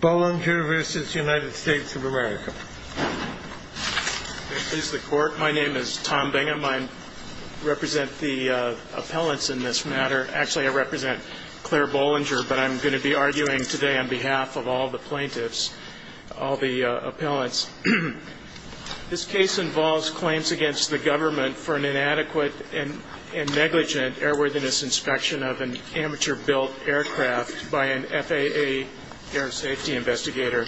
Bollinger v. United States of America My name is Tom Bingham. I represent the appellants in this matter. Actually, I represent Claire Bollinger, but I'm going to be arguing today on behalf of all the plaintiffs, all the appellants. This case involves claims against the government for an inadequate and negligent airworthiness inspection of an amateur-built aircraft by an FAA air safety investigator.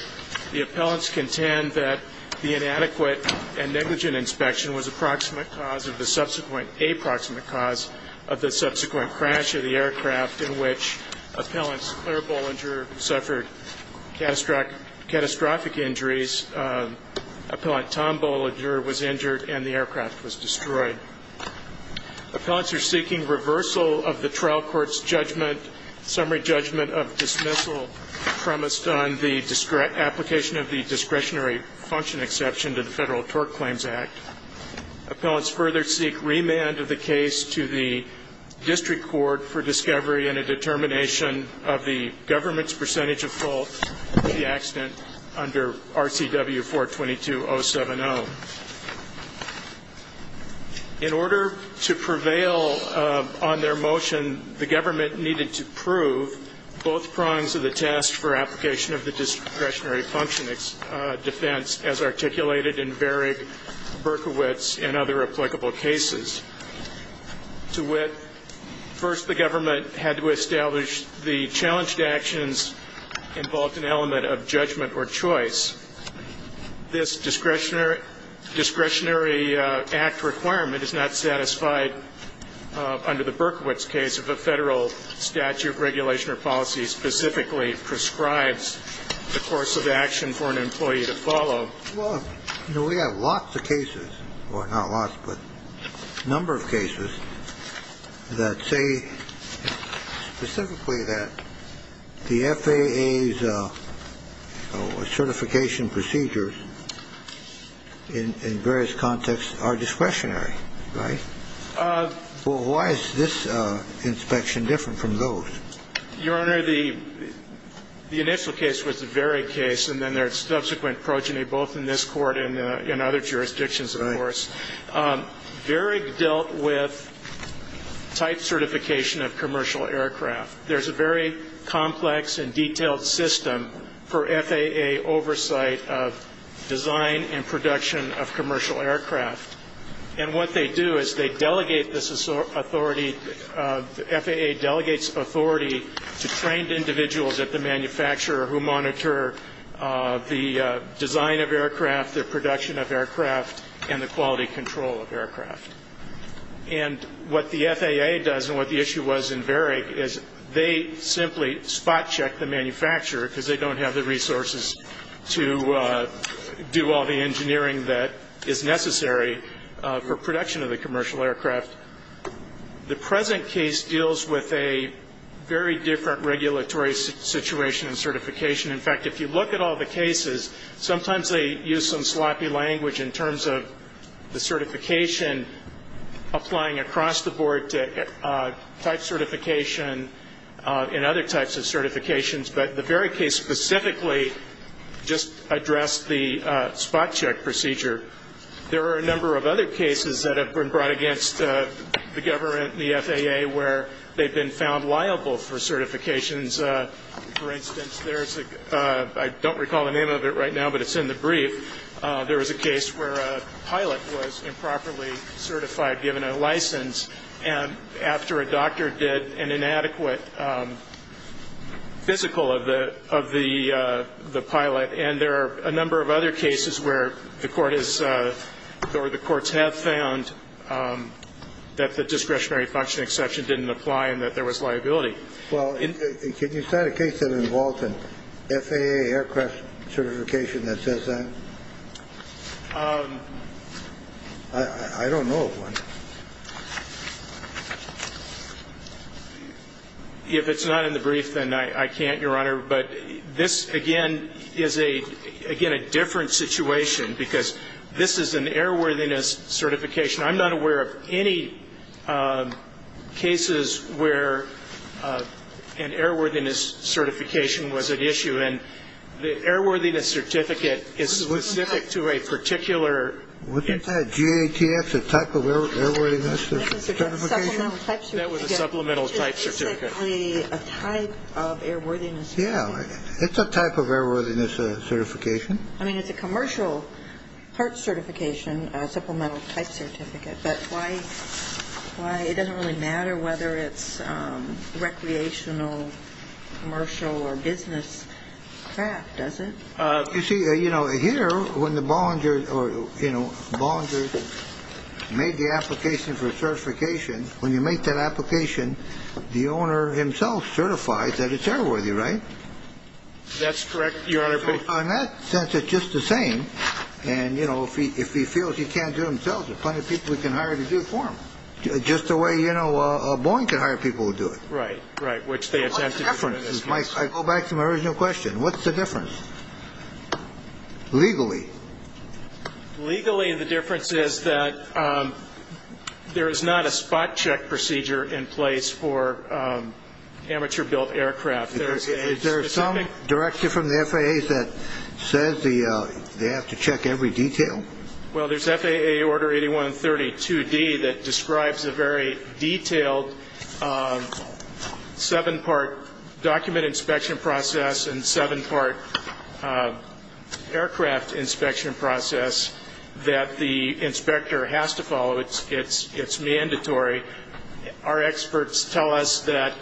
The appellants contend that the inadequate and negligent inspection was a proximate cause of the subsequent a-proximate cause of the subsequent crash of the aircraft in which appellant Claire Bollinger suffered catastrophic injuries, appellant Tom Bollinger was injured, and the trial court's judgment, summary judgment of dismissal, premised on the application of the discretionary function exception to the Federal TORC Claims Act. Appellants further seek remand of the case to the district court for discovery and a determination of the government's percentage of fault for the accident under RCW 422.070. In order to prevail on their motion, the government needed to prove both prongs of the test for application of the discretionary function defense as articulated in Varig, Berkowitz, and other applicable cases. To wit, first the government had to establish the challenged actions involved an element of judgment or choice. This discretionary function discretionary act requirement is not satisfied under the Berkowitz case if a Federal statute regulation or policy specifically prescribes the course of action for an employee to follow. Well, you know, we have lots of cases, well, not lots, but a number of cases that say specifically that the FAA's certification procedures in various contexts are discretionary, right? Well, why is this inspection different from those? Your Honor, the initial case was the Varig case, and then there's subsequent progeny both in this court and in other jurisdictions, of course. Varig dealt with type certification of commercial aircraft. There's a very complex and detailed system for FAA oversight of design and production of commercial aircraft. And what they do is they delegate this authority, the FAA delegates authority to trained individuals at the manufacturer who monitor the design of aircraft, their production of aircraft, and the quality control of aircraft. And what the FAA does, and what the issue was in Varig, is they simply spot check the manufacturer because they don't have the resources to do all the engineering that is necessary for production of the commercial aircraft. The present case deals with a very different regulatory situation in certification. In fact, if you look at all the cases, sometimes they use some sloppy language in terms of the type certification and other types of certifications, but the Varig case specifically just addressed the spot check procedure. There are a number of other cases that have been brought against the government, the FAA, where they've been found liable for certifications. For instance, there's a – I don't recall the name of it right now, but it's in the brief. There was a case where a pilot was improperly certified, given a license, and after a doctor did an inadequate physical of the pilot. And there are a number of other cases where the court has – or the courts have found that the discretionary function exception didn't apply and that there was liability. Well, can you cite a case that involves an FAA aircraft certification that says that? I don't know of one. If it's not in the brief, then I can't, Your Honor. But this, again, is a – again, a different situation because this is an airworthiness certification. I'm not aware of any cases where an airworthiness certification was at issue. And the airworthiness certificate is specific to a particular – Wasn't that GATF, the type of airworthiness certification? That was a supplemental type certificate. That was a supplemental type certificate. It's basically a type of airworthiness certification. Yeah. It's a type of airworthiness certification. I mean, it's a commercial part certification, a supplemental type certificate. But why – it doesn't really matter whether it's recreational, commercial, or business craft, does it? You see, you know, here, when the Bollinger – or, you know, Bollinger made the application for certification, when you make that application, the owner himself certified that it's airworthy, right? That's correct, Your Honor. So in that sense, it's just the same. And, you know, if he feels he can't do it himself, there's plenty of people he can hire to do it for him. Just the way, you know, Boeing can hire people to do it. Right, right, which they attempted to do in this case. I go back to my original question. What's the difference legally? Legally, the difference is that there is not a spot check procedure in place for amateur-built aircraft. Is there some directive from the FAA that says they have to check every detail? Well, there's FAA Order 8132D that describes a very detailed seven-part document inspection process and seven-part aircraft inspection process that the inspector has to follow. It's mandatory. Our experts tell us that,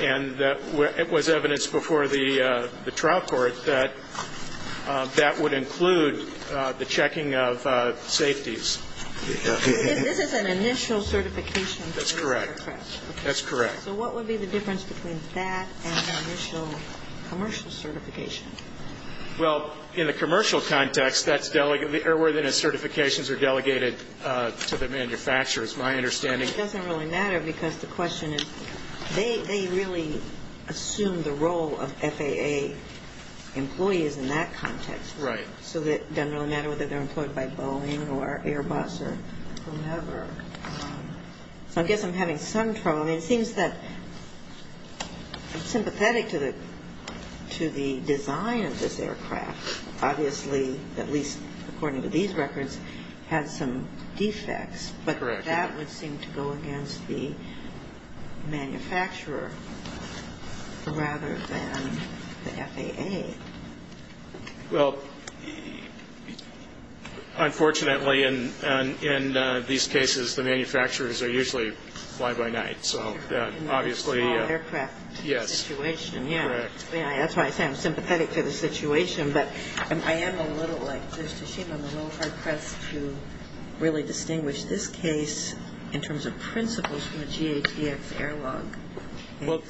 and it was evidenced before the trial court, that that would include the checking of safeties. This is an initial certification. That's correct. That's correct. So what would be the difference between that and the initial commercial certification? Well, in the commercial context, that's delegated, the airworthiness certifications are delegated to the manufacturers. It doesn't really matter because the question is, they really assume the role of FAA employees in that context. Right. So it doesn't really matter whether they're employed by Boeing or Airbus or whomever. So I guess I'm having some trouble. I mean, it seems that I'm sympathetic to the design of this aircraft. Obviously, at least according to these records, it has some defects. But that would seem to go against the manufacturer rather than the FAA. Well, unfortunately, in these cases, the manufacturers are usually fly-by-night. So obviously yes. That's why I say I'm sympathetic to the situation. But I am a little like Judge Tashima, I'm a little hard-pressed to really distinguish this case in terms of principles from a GATX air log. Well,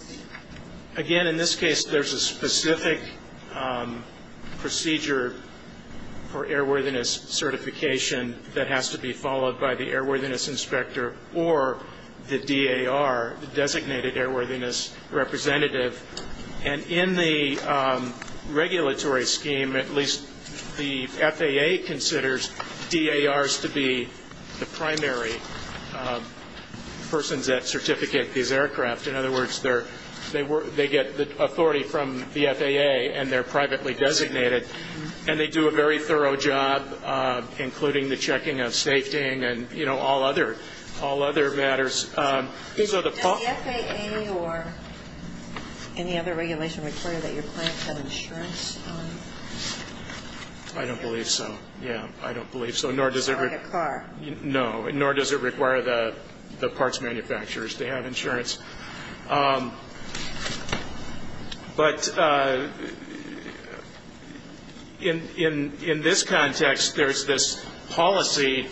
again, in this case, there's a specific procedure for airworthiness certification that has to be followed by the airworthiness inspector or the DAR, the Designated Airworthiness Representative. And in the regulatory scheme, at least the FAA considers DARs to be the primary persons that certificate these aircraft. In other words, they get the authority from the FAA and they're privately designated. And they do a very thorough job, including the checking of safety and all other matters. Does the FAA or any other regulation require that your clients have insurance? I don't believe so. Yeah, I don't believe so, nor does it require the parts manufacturers to have insurance. But in this context, there's this policy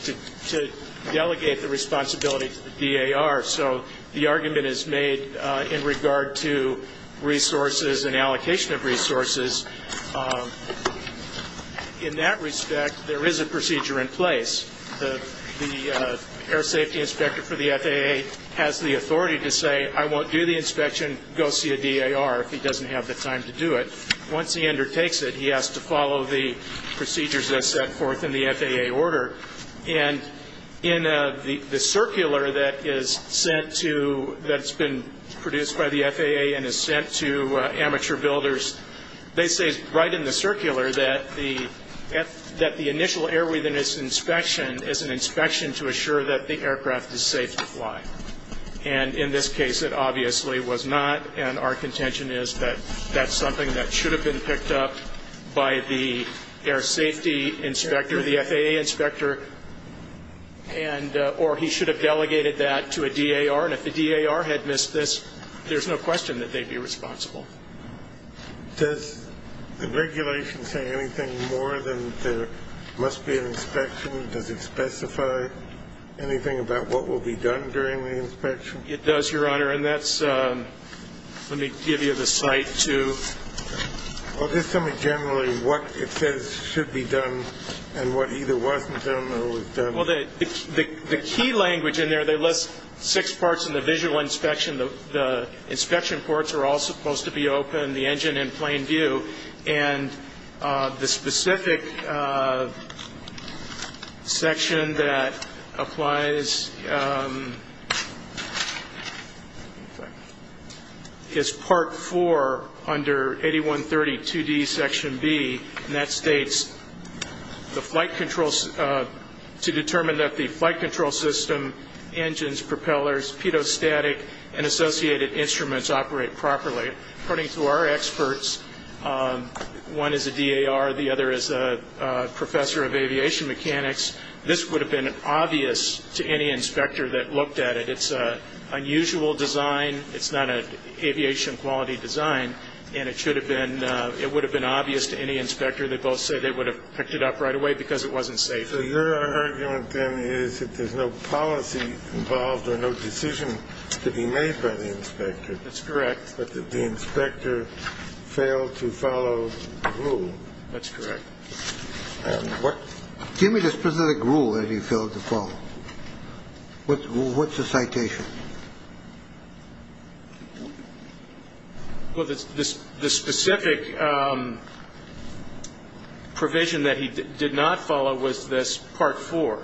to delegate the responsibility to the DAR. So the argument is made in regard to resources and allocation of resources. In that respect, there is a procedure in place. The air safety inspector for the FAA has the authority to say, I won't do the inspection, go see a DAR if he doesn't have the time to do it. Once he undertakes it, he has to follow the procedures as set forth in the FAA order. And in the circular that is sent to, that's been produced by the FAA and is sent to amateur builders, they say right in the circular that the initial airworthiness inspection is an inspection to assure that the aircraft is safe to fly. And in this case, it obviously was not. And our contention is that that's something that should have been picked up by the air safety inspector, the FAA inspector, or he should have delegated that to a DAR. And if the DAR had missed this, there's no question that they'd be responsible. Does the regulation say anything more than there must be an inspection? Does it specify anything about what will be done during the inspection? It does, Your Honor. And that's, let me give you the site, too. Well, just tell me generally what it says should be done and what either wasn't done or was done. Well, the key language in there, they list six parts in the visual inspection. The inspection ports are all supposed to be open. The engine in plain view. And the specific section that applies is Part 4 under 8132D, Section B. And that states the flight control, to determine that the flight control system, engines, propellers, pitot-static, and associated instruments operate properly. According to our experts, one is a DAR, the other is a professor of aviation mechanics. This would have been obvious to any inspector that looked at it. It's an unusual design. It's not an aviation quality design. And it should have been, it would have been obvious to any inspector. They both say they would have picked it up right away because it wasn't safe. So your argument, then, is that there's no policy involved or no decision to be made by the inspector. That's correct. But the inspector failed to follow the rule. That's correct. Give me the specific rule that he failed to follow. What's the citation? Well, the specific provision that he did not follow was this Part 4.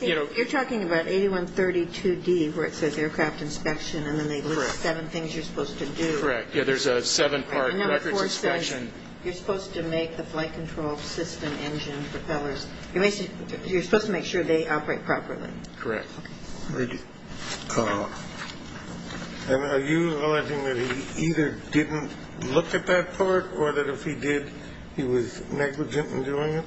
You're talking about 8132D, where it says aircraft inspection, and then they list seven things you're supposed to do. Correct. Yeah, there's a seven-part records inspection. Number 4 says you're supposed to make the flight control system, engine, propellers, you're supposed to make sure they operate properly. Correct. And are you alleging that he either didn't look at that part or that if he did he was negligent in doing it?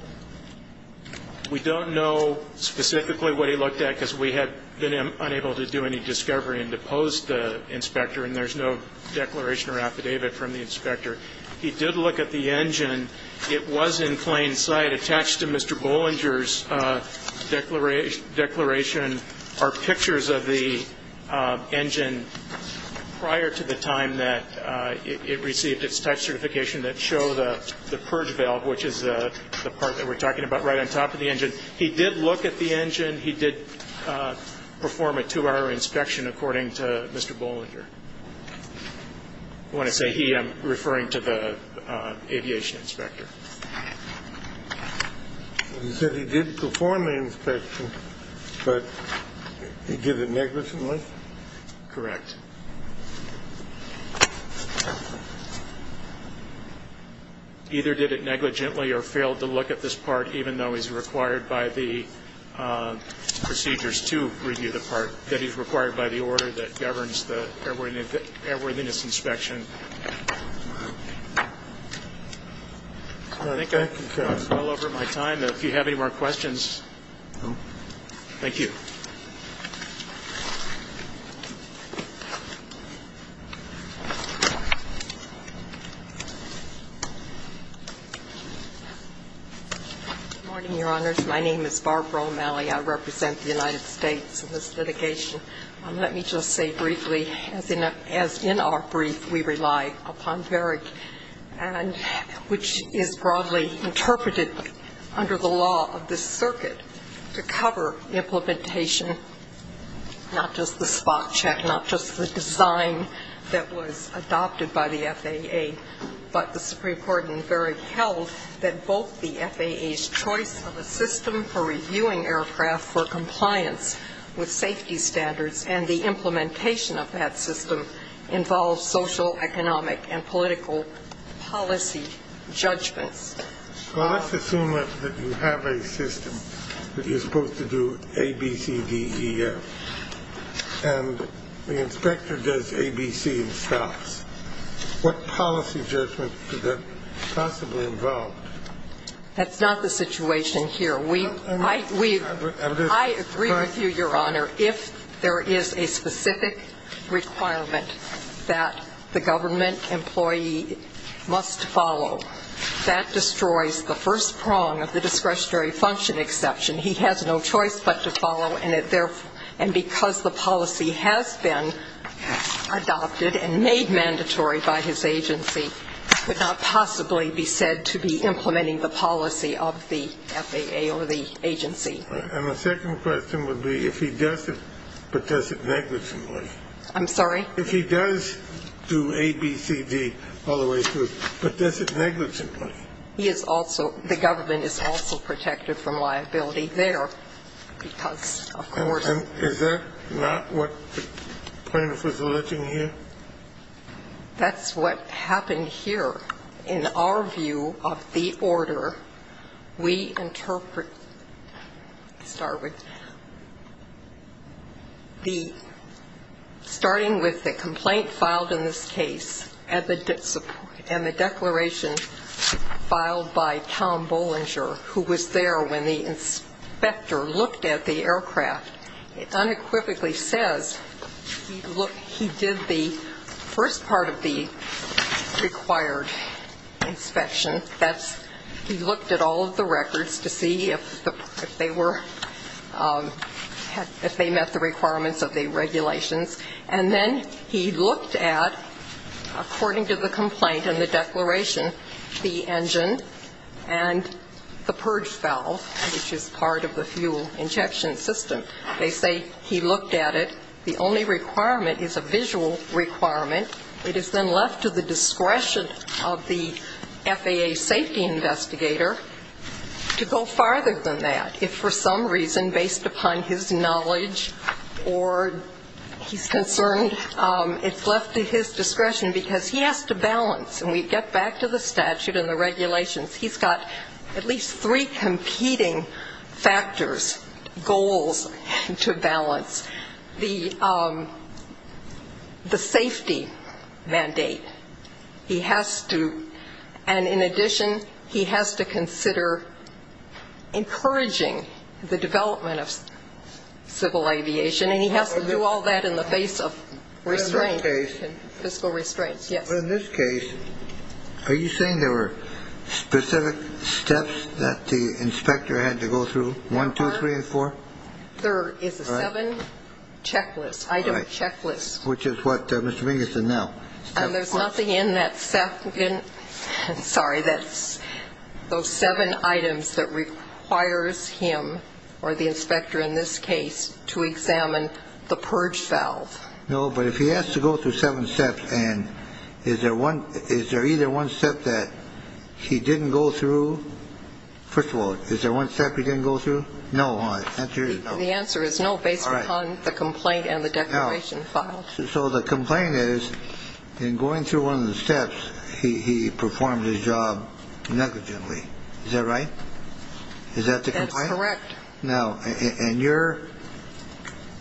We don't know specifically what he looked at because we have been unable to do any discovery in the post inspector, and there's no declaration or affidavit from the inspector. He did look at the engine. It was in plain sight. Attached to Mr. Bollinger's declaration are pictures of the engine prior to the time that it received its type certification that show the purge valve, which is the part that we're talking about right on top of the engine. He did look at the engine. He did perform a two-hour inspection according to Mr. Bollinger. When I say he, I'm referring to the aviation inspector. You said he did perform the inspection, but he did it negligently? Correct. Either did it negligently or failed to look at this part, even though he's required by the procedures to review the part, that he's required by the order that governs the airworthiness inspection. I think I've gone well over my time. If you have any more questions, thank you. Good morning, Your Honors. My name is Barbara O'Malley. I represent the United States in this litigation. Let me just say briefly, as in our brief, we rely upon VERIG, which is broadly interpreted under the law of this circuit to cover implementation, not just the spot check, not just the design that was adopted by the FAA, but the Supreme Court in VERIG held that both the FAA's choice of a system for reviewing aircraft for compliance with safety standards and the implementation of that system involves social, economic, and political policy judgments. Well, let's assume that you have a system that you're supposed to do A, B, C, D, E, F, and the inspector does A, B, C, and stops. What policy judgments is that possibly involved? That's not the situation here. I agree with you, Your Honor. If there is a specific requirement that the government employee must follow, that destroys the first prong of the discretionary function exception. He has no choice but to follow, and because the policy has been adopted and made mandatory by his agency, it could not possibly be said to be implementing the policy of the FAA or the agency. And the second question would be if he does it, but does it negligently? I'm sorry? If he does do A, B, C, D all the way through, but does it negligently? He is also, the government is also protected from liability there because, of course. And is that not what the plaintiff was alluding here? That's what happened here. In our view of the order, we interpret, start with the, starting with the complaint filed in this case and the declaration filed by Tom Bollinger, who was there when the inspector looked at the aircraft, it unequivocally says he did the first part of the required inspection. That's, he looked at all of the records to see if they were, if they met the requirements of the regulations. And then he looked at, according to the complaint and the declaration, the engine and the purge valve, which is part of the fuel injection system. They say he looked at it. The only requirement is a visual requirement. It is then left to the discretion of the FAA safety investigator to go farther than that. If for some reason, based upon his knowledge or he's concerned, and we get back to the statute and the regulations, he's got at least three competing factors, goals to balance. The safety mandate, he has to, and in addition, he has to consider encouraging the development of civil aviation, and he has to do all that in the face of restraint. In this case. Fiscal restraint, yes. But in this case, are you saying there were specific steps that the inspector had to go through? One, two, three, and four? There is a seven checklist, item checklist. Which is what Mr. Mingus did now. And there's nothing in that seven, sorry, that's those seven items that requires him, or the inspector in this case, to examine the purge valve. No, but if he has to go through seven steps, and is there either one step that he didn't go through? First of all, is there one step he didn't go through? No. The answer is no, based upon the complaint and the declaration file. So the complaint is, in going through one of the steps, he performed his job negligently. Is that the complaint? That's correct. Now, and your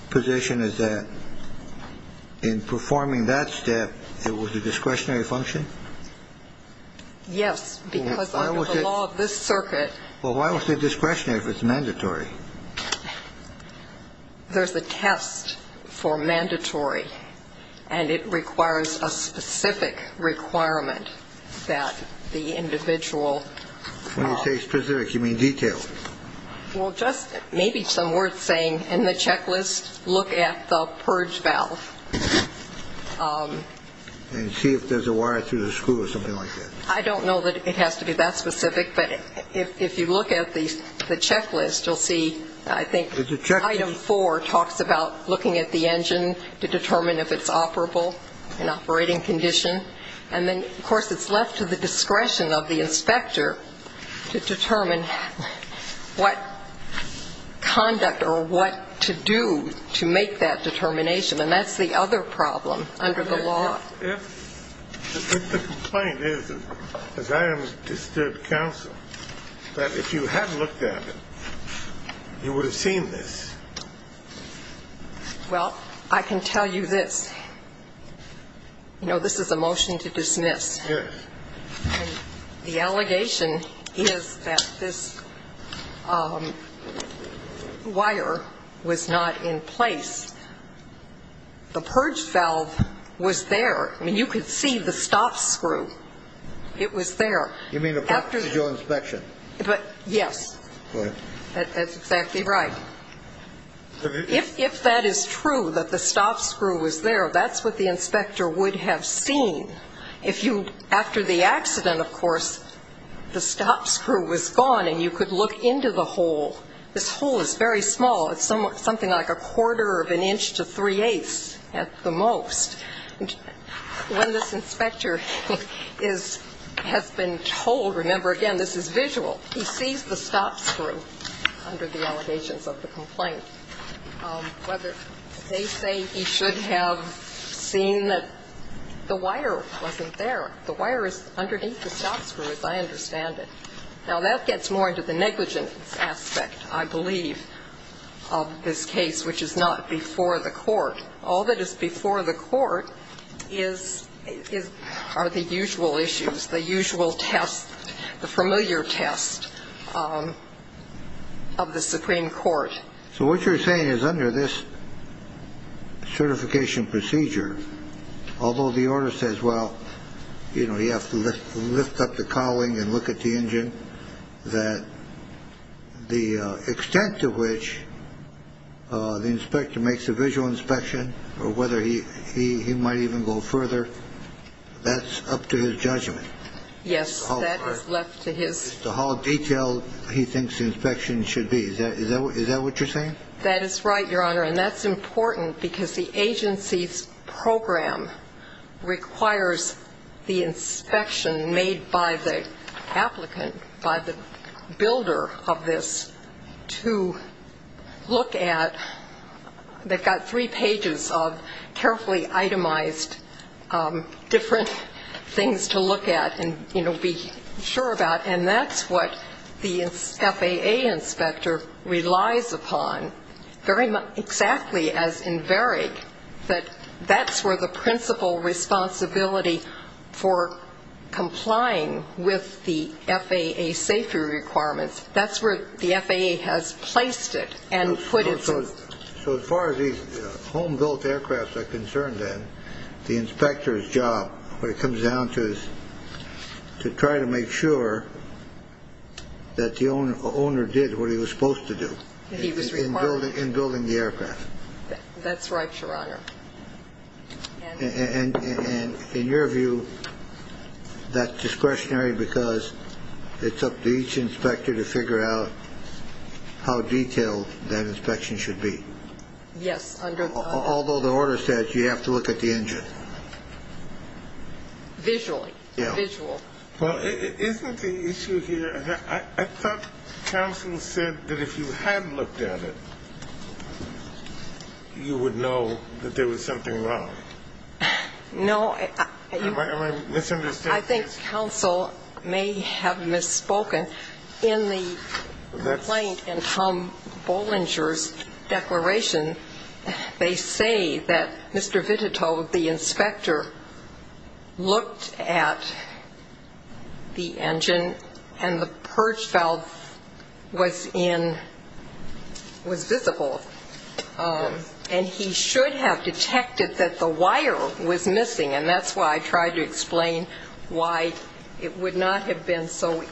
position is that in performing that step, it was a discretionary function? Yes, because under the law of this circuit. Well, why was it discretionary if it's mandatory? There's a test for mandatory, and it requires a specific requirement that the individual. When you say specific, you mean detailed? Well, just maybe some words saying, in the checklist, look at the purge valve. And see if there's a wire through the screw or something like that. I don't know that it has to be that specific, but if you look at the checklist, you'll see, I think, item four talks about looking at the engine to determine if it's operable in operating condition. And then, of course, it's left to the discretion of the inspector to determine what conduct or what to do to make that determination. And that's the other problem under the law. If the complaint is, as I understood counsel, that if you had looked at it, you would have seen this. Well, I can tell you this. You know, this is a motion to dismiss. Yes. The allegation is that this wire was not in place. The purge valve was there. I mean, you could see the stop screw. It was there. You mean the part for your inspection? Yes. That's exactly right. If that is true, that the stop screw was there, that's what the inspector would have seen. If you, after the accident, of course, the stop screw was gone and you could look into the hole. This hole is very small. It's something like a quarter of an inch to three-eighths at the most. When this inspector has been told, remember, again, this is visual, he sees the stop screw under the allegations of the complaint. Whether they say he should have seen that the wire wasn't there. The wire is underneath the stop screw, as I understand it. Now, that gets more into the negligence aspect, I believe, of this case, which is not before the court. All that is before the court are the usual issues, the usual tests, the familiar tests of the Supreme Court. So what you're saying is under this certification procedure, although the order says, well, you know, you have to lift up the cowling and look at the engine, that the extent to which the inspector makes a visual inspection or whether he might even go further, that's up to his judgment. Yes, that is left to his. As to how detailed he thinks the inspection should be. Is that what you're saying? That is right, Your Honor. And that's important because the agency's program requires the inspection made by the applicant, by the builder of this, to look at. They've got three pages of carefully itemized different things to look at and, you know, be sure about. And that's what the FAA inspector relies upon, exactly as in Verick, that that's where the principal responsibility for complying with the FAA safety requirements, that's where the FAA has placed it and put it. So as far as these home-built aircrafts are concerned, then, the inspector's job, what it comes down to is to try to make sure that the owner did what he was supposed to do in building the aircraft. That's right, Your Honor. And in your view, that's discretionary because it's up to each inspector to figure out how detailed that inspection should be. Yes. Although the order says you have to look at the engine. Visually, visual. Well, isn't the issue here, I thought counsel said that if you had looked at it, you would know that there was something wrong. No. Am I misunderstanding? I think counsel may have misspoken. In the complaint in Tom Bollinger's declaration, they say that Mr. Vitito, the inspector, looked at the engine and the purge valve was visible. And he should have detected that the wire was missing, and that's why I tried to explain why it would not have been so,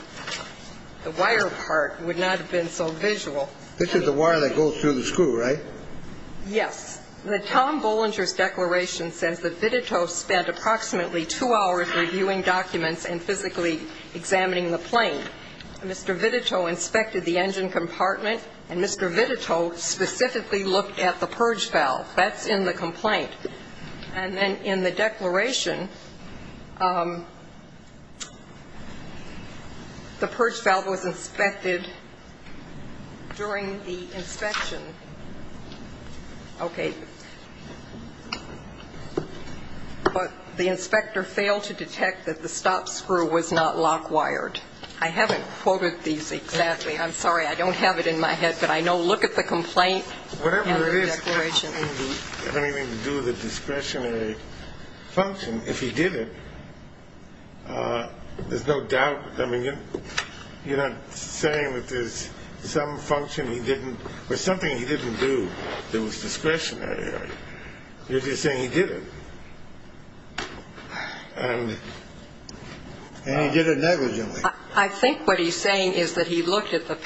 the wire part would not have been so visual. This is the wire that goes through the screw, right? Yes. The Tom Bollinger's declaration says that Vitito spent approximately two hours reviewing documents and physically examining the plane. Mr. Vitito inspected the engine compartment, and Mr. Vitito specifically looked at the purge valve. That's in the complaint. And then in the declaration, the purge valve was inspected during the inspection. Okay. But the inspector failed to detect that the stop screw was not lock-wired. I haven't quoted these exactly. I'm sorry, I don't have it in my head, but I know look at the complaint and the declaration. It doesn't have anything to do with a discretionary function. If he did it, there's no doubt. I mean, you're not saying that there's some function he didn't, or something he didn't do that was discretionary. You're just saying he did it, and he did it negligently. I think what he's saying is that he looked at the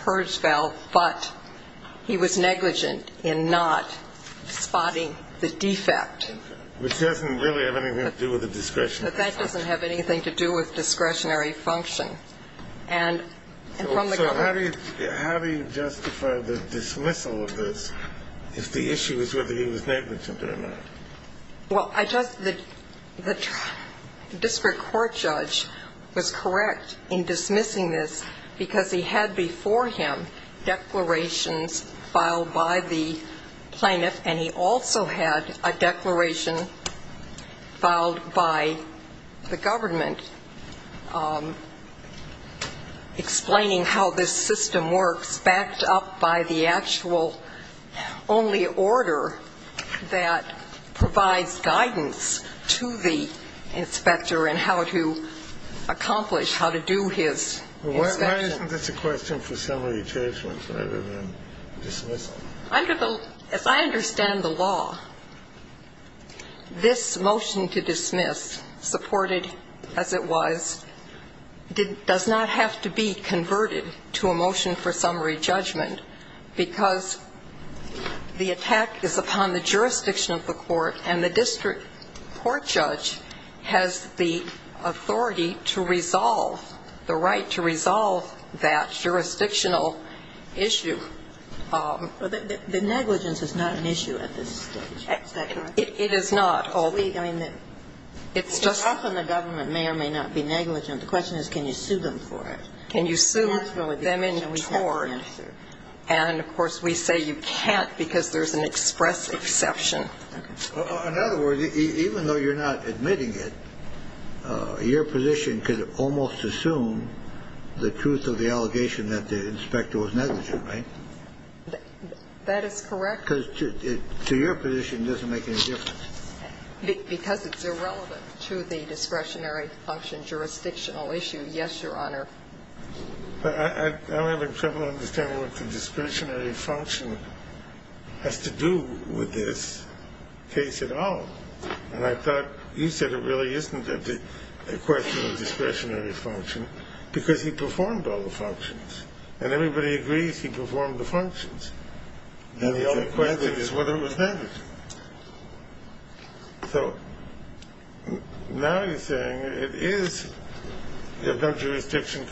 purge valve, but he was negligent in not spotting the defect. Okay. Which doesn't really have anything to do with a discretionary function. That doesn't have anything to do with discretionary function. So how do you justify the dismissal of this if the issue is whether he was negligent or not? Well, the district court judge was correct in dismissing this, because he had before him declarations filed by the plaintiff, and he also had a declaration filed by the government explaining how this system works, backed up by the actual only order that provides guidance to the inspector and how to accomplish, how to do his inspection. Why isn't this a question for summary judgments rather than dismissal? As I understand the law, this motion to dismiss, supported as it was, does not have to be converted to a motion for summary judgment, because the attack is upon the jurisdiction of the court, and the district court judge has the authority to resolve, the right to resolve that jurisdictional issue. The negligence is not an issue at this stage. Is that correct? It is not. It's just often the government may or may not be negligent. The question is, can you sue them for it? Can you sue them in tort? And, of course, we say you can't because there's an express exception. In other words, even though you're not admitting it, your position could almost assume the truth of the allegation that the inspector was negligent, right? That is correct. Because to your position, it doesn't make any difference. Because it's irrelevant to the discretionary function jurisdictional issue. Yes, Your Honor. I'm having trouble understanding what the discretionary function has to do with this case at all. And I thought you said it really isn't a question of discretionary function, because he performed all the functions, and everybody agrees he performed the functions. And the only question is whether it was negligent. So now you're saying it is a non-jurisdiction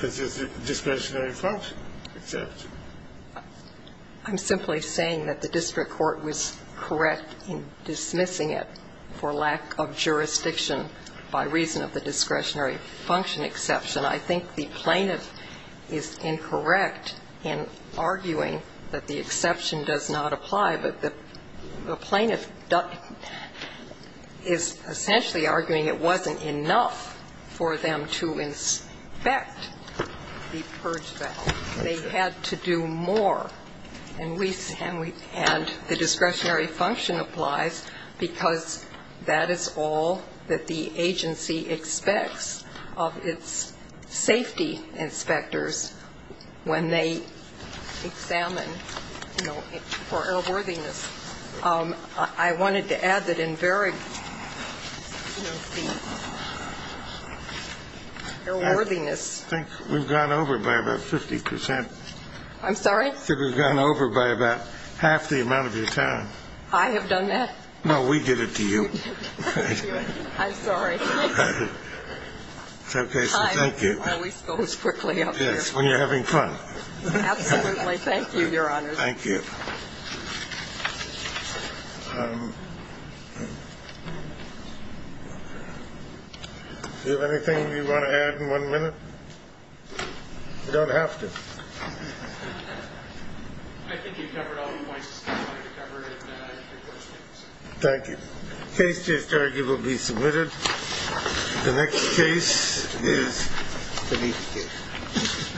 discretionary function exception. I'm simply saying that the district court was correct in dismissing it for lack of jurisdiction by reason of the discretionary function exception. I think the plaintiff is incorrect in arguing that the exception does not apply, but the plaintiff is essentially arguing it wasn't enough for them to inspect the purge valve. They had to do more. And the discretionary function applies because that is all that the agency expects of its safety inspectors when they examine, you know, for airworthiness. I wanted to add that in very, you know, the airworthiness. I think we've gone over by about 50%. I'm sorry? I think we've gone over by about half the amount of your time. I have done that? No, we did it to you. I'm sorry. It's okay. So thank you. Time always goes quickly up here. Yes, when you're having fun. Absolutely. Thank you, Your Honors. Thank you. Do you have anything you want to add in one minute? You don't have to. I think you've covered all the points that you wanted to cover in your court statements. Thank you. The case is arguably submitted. The next case is the Levy case.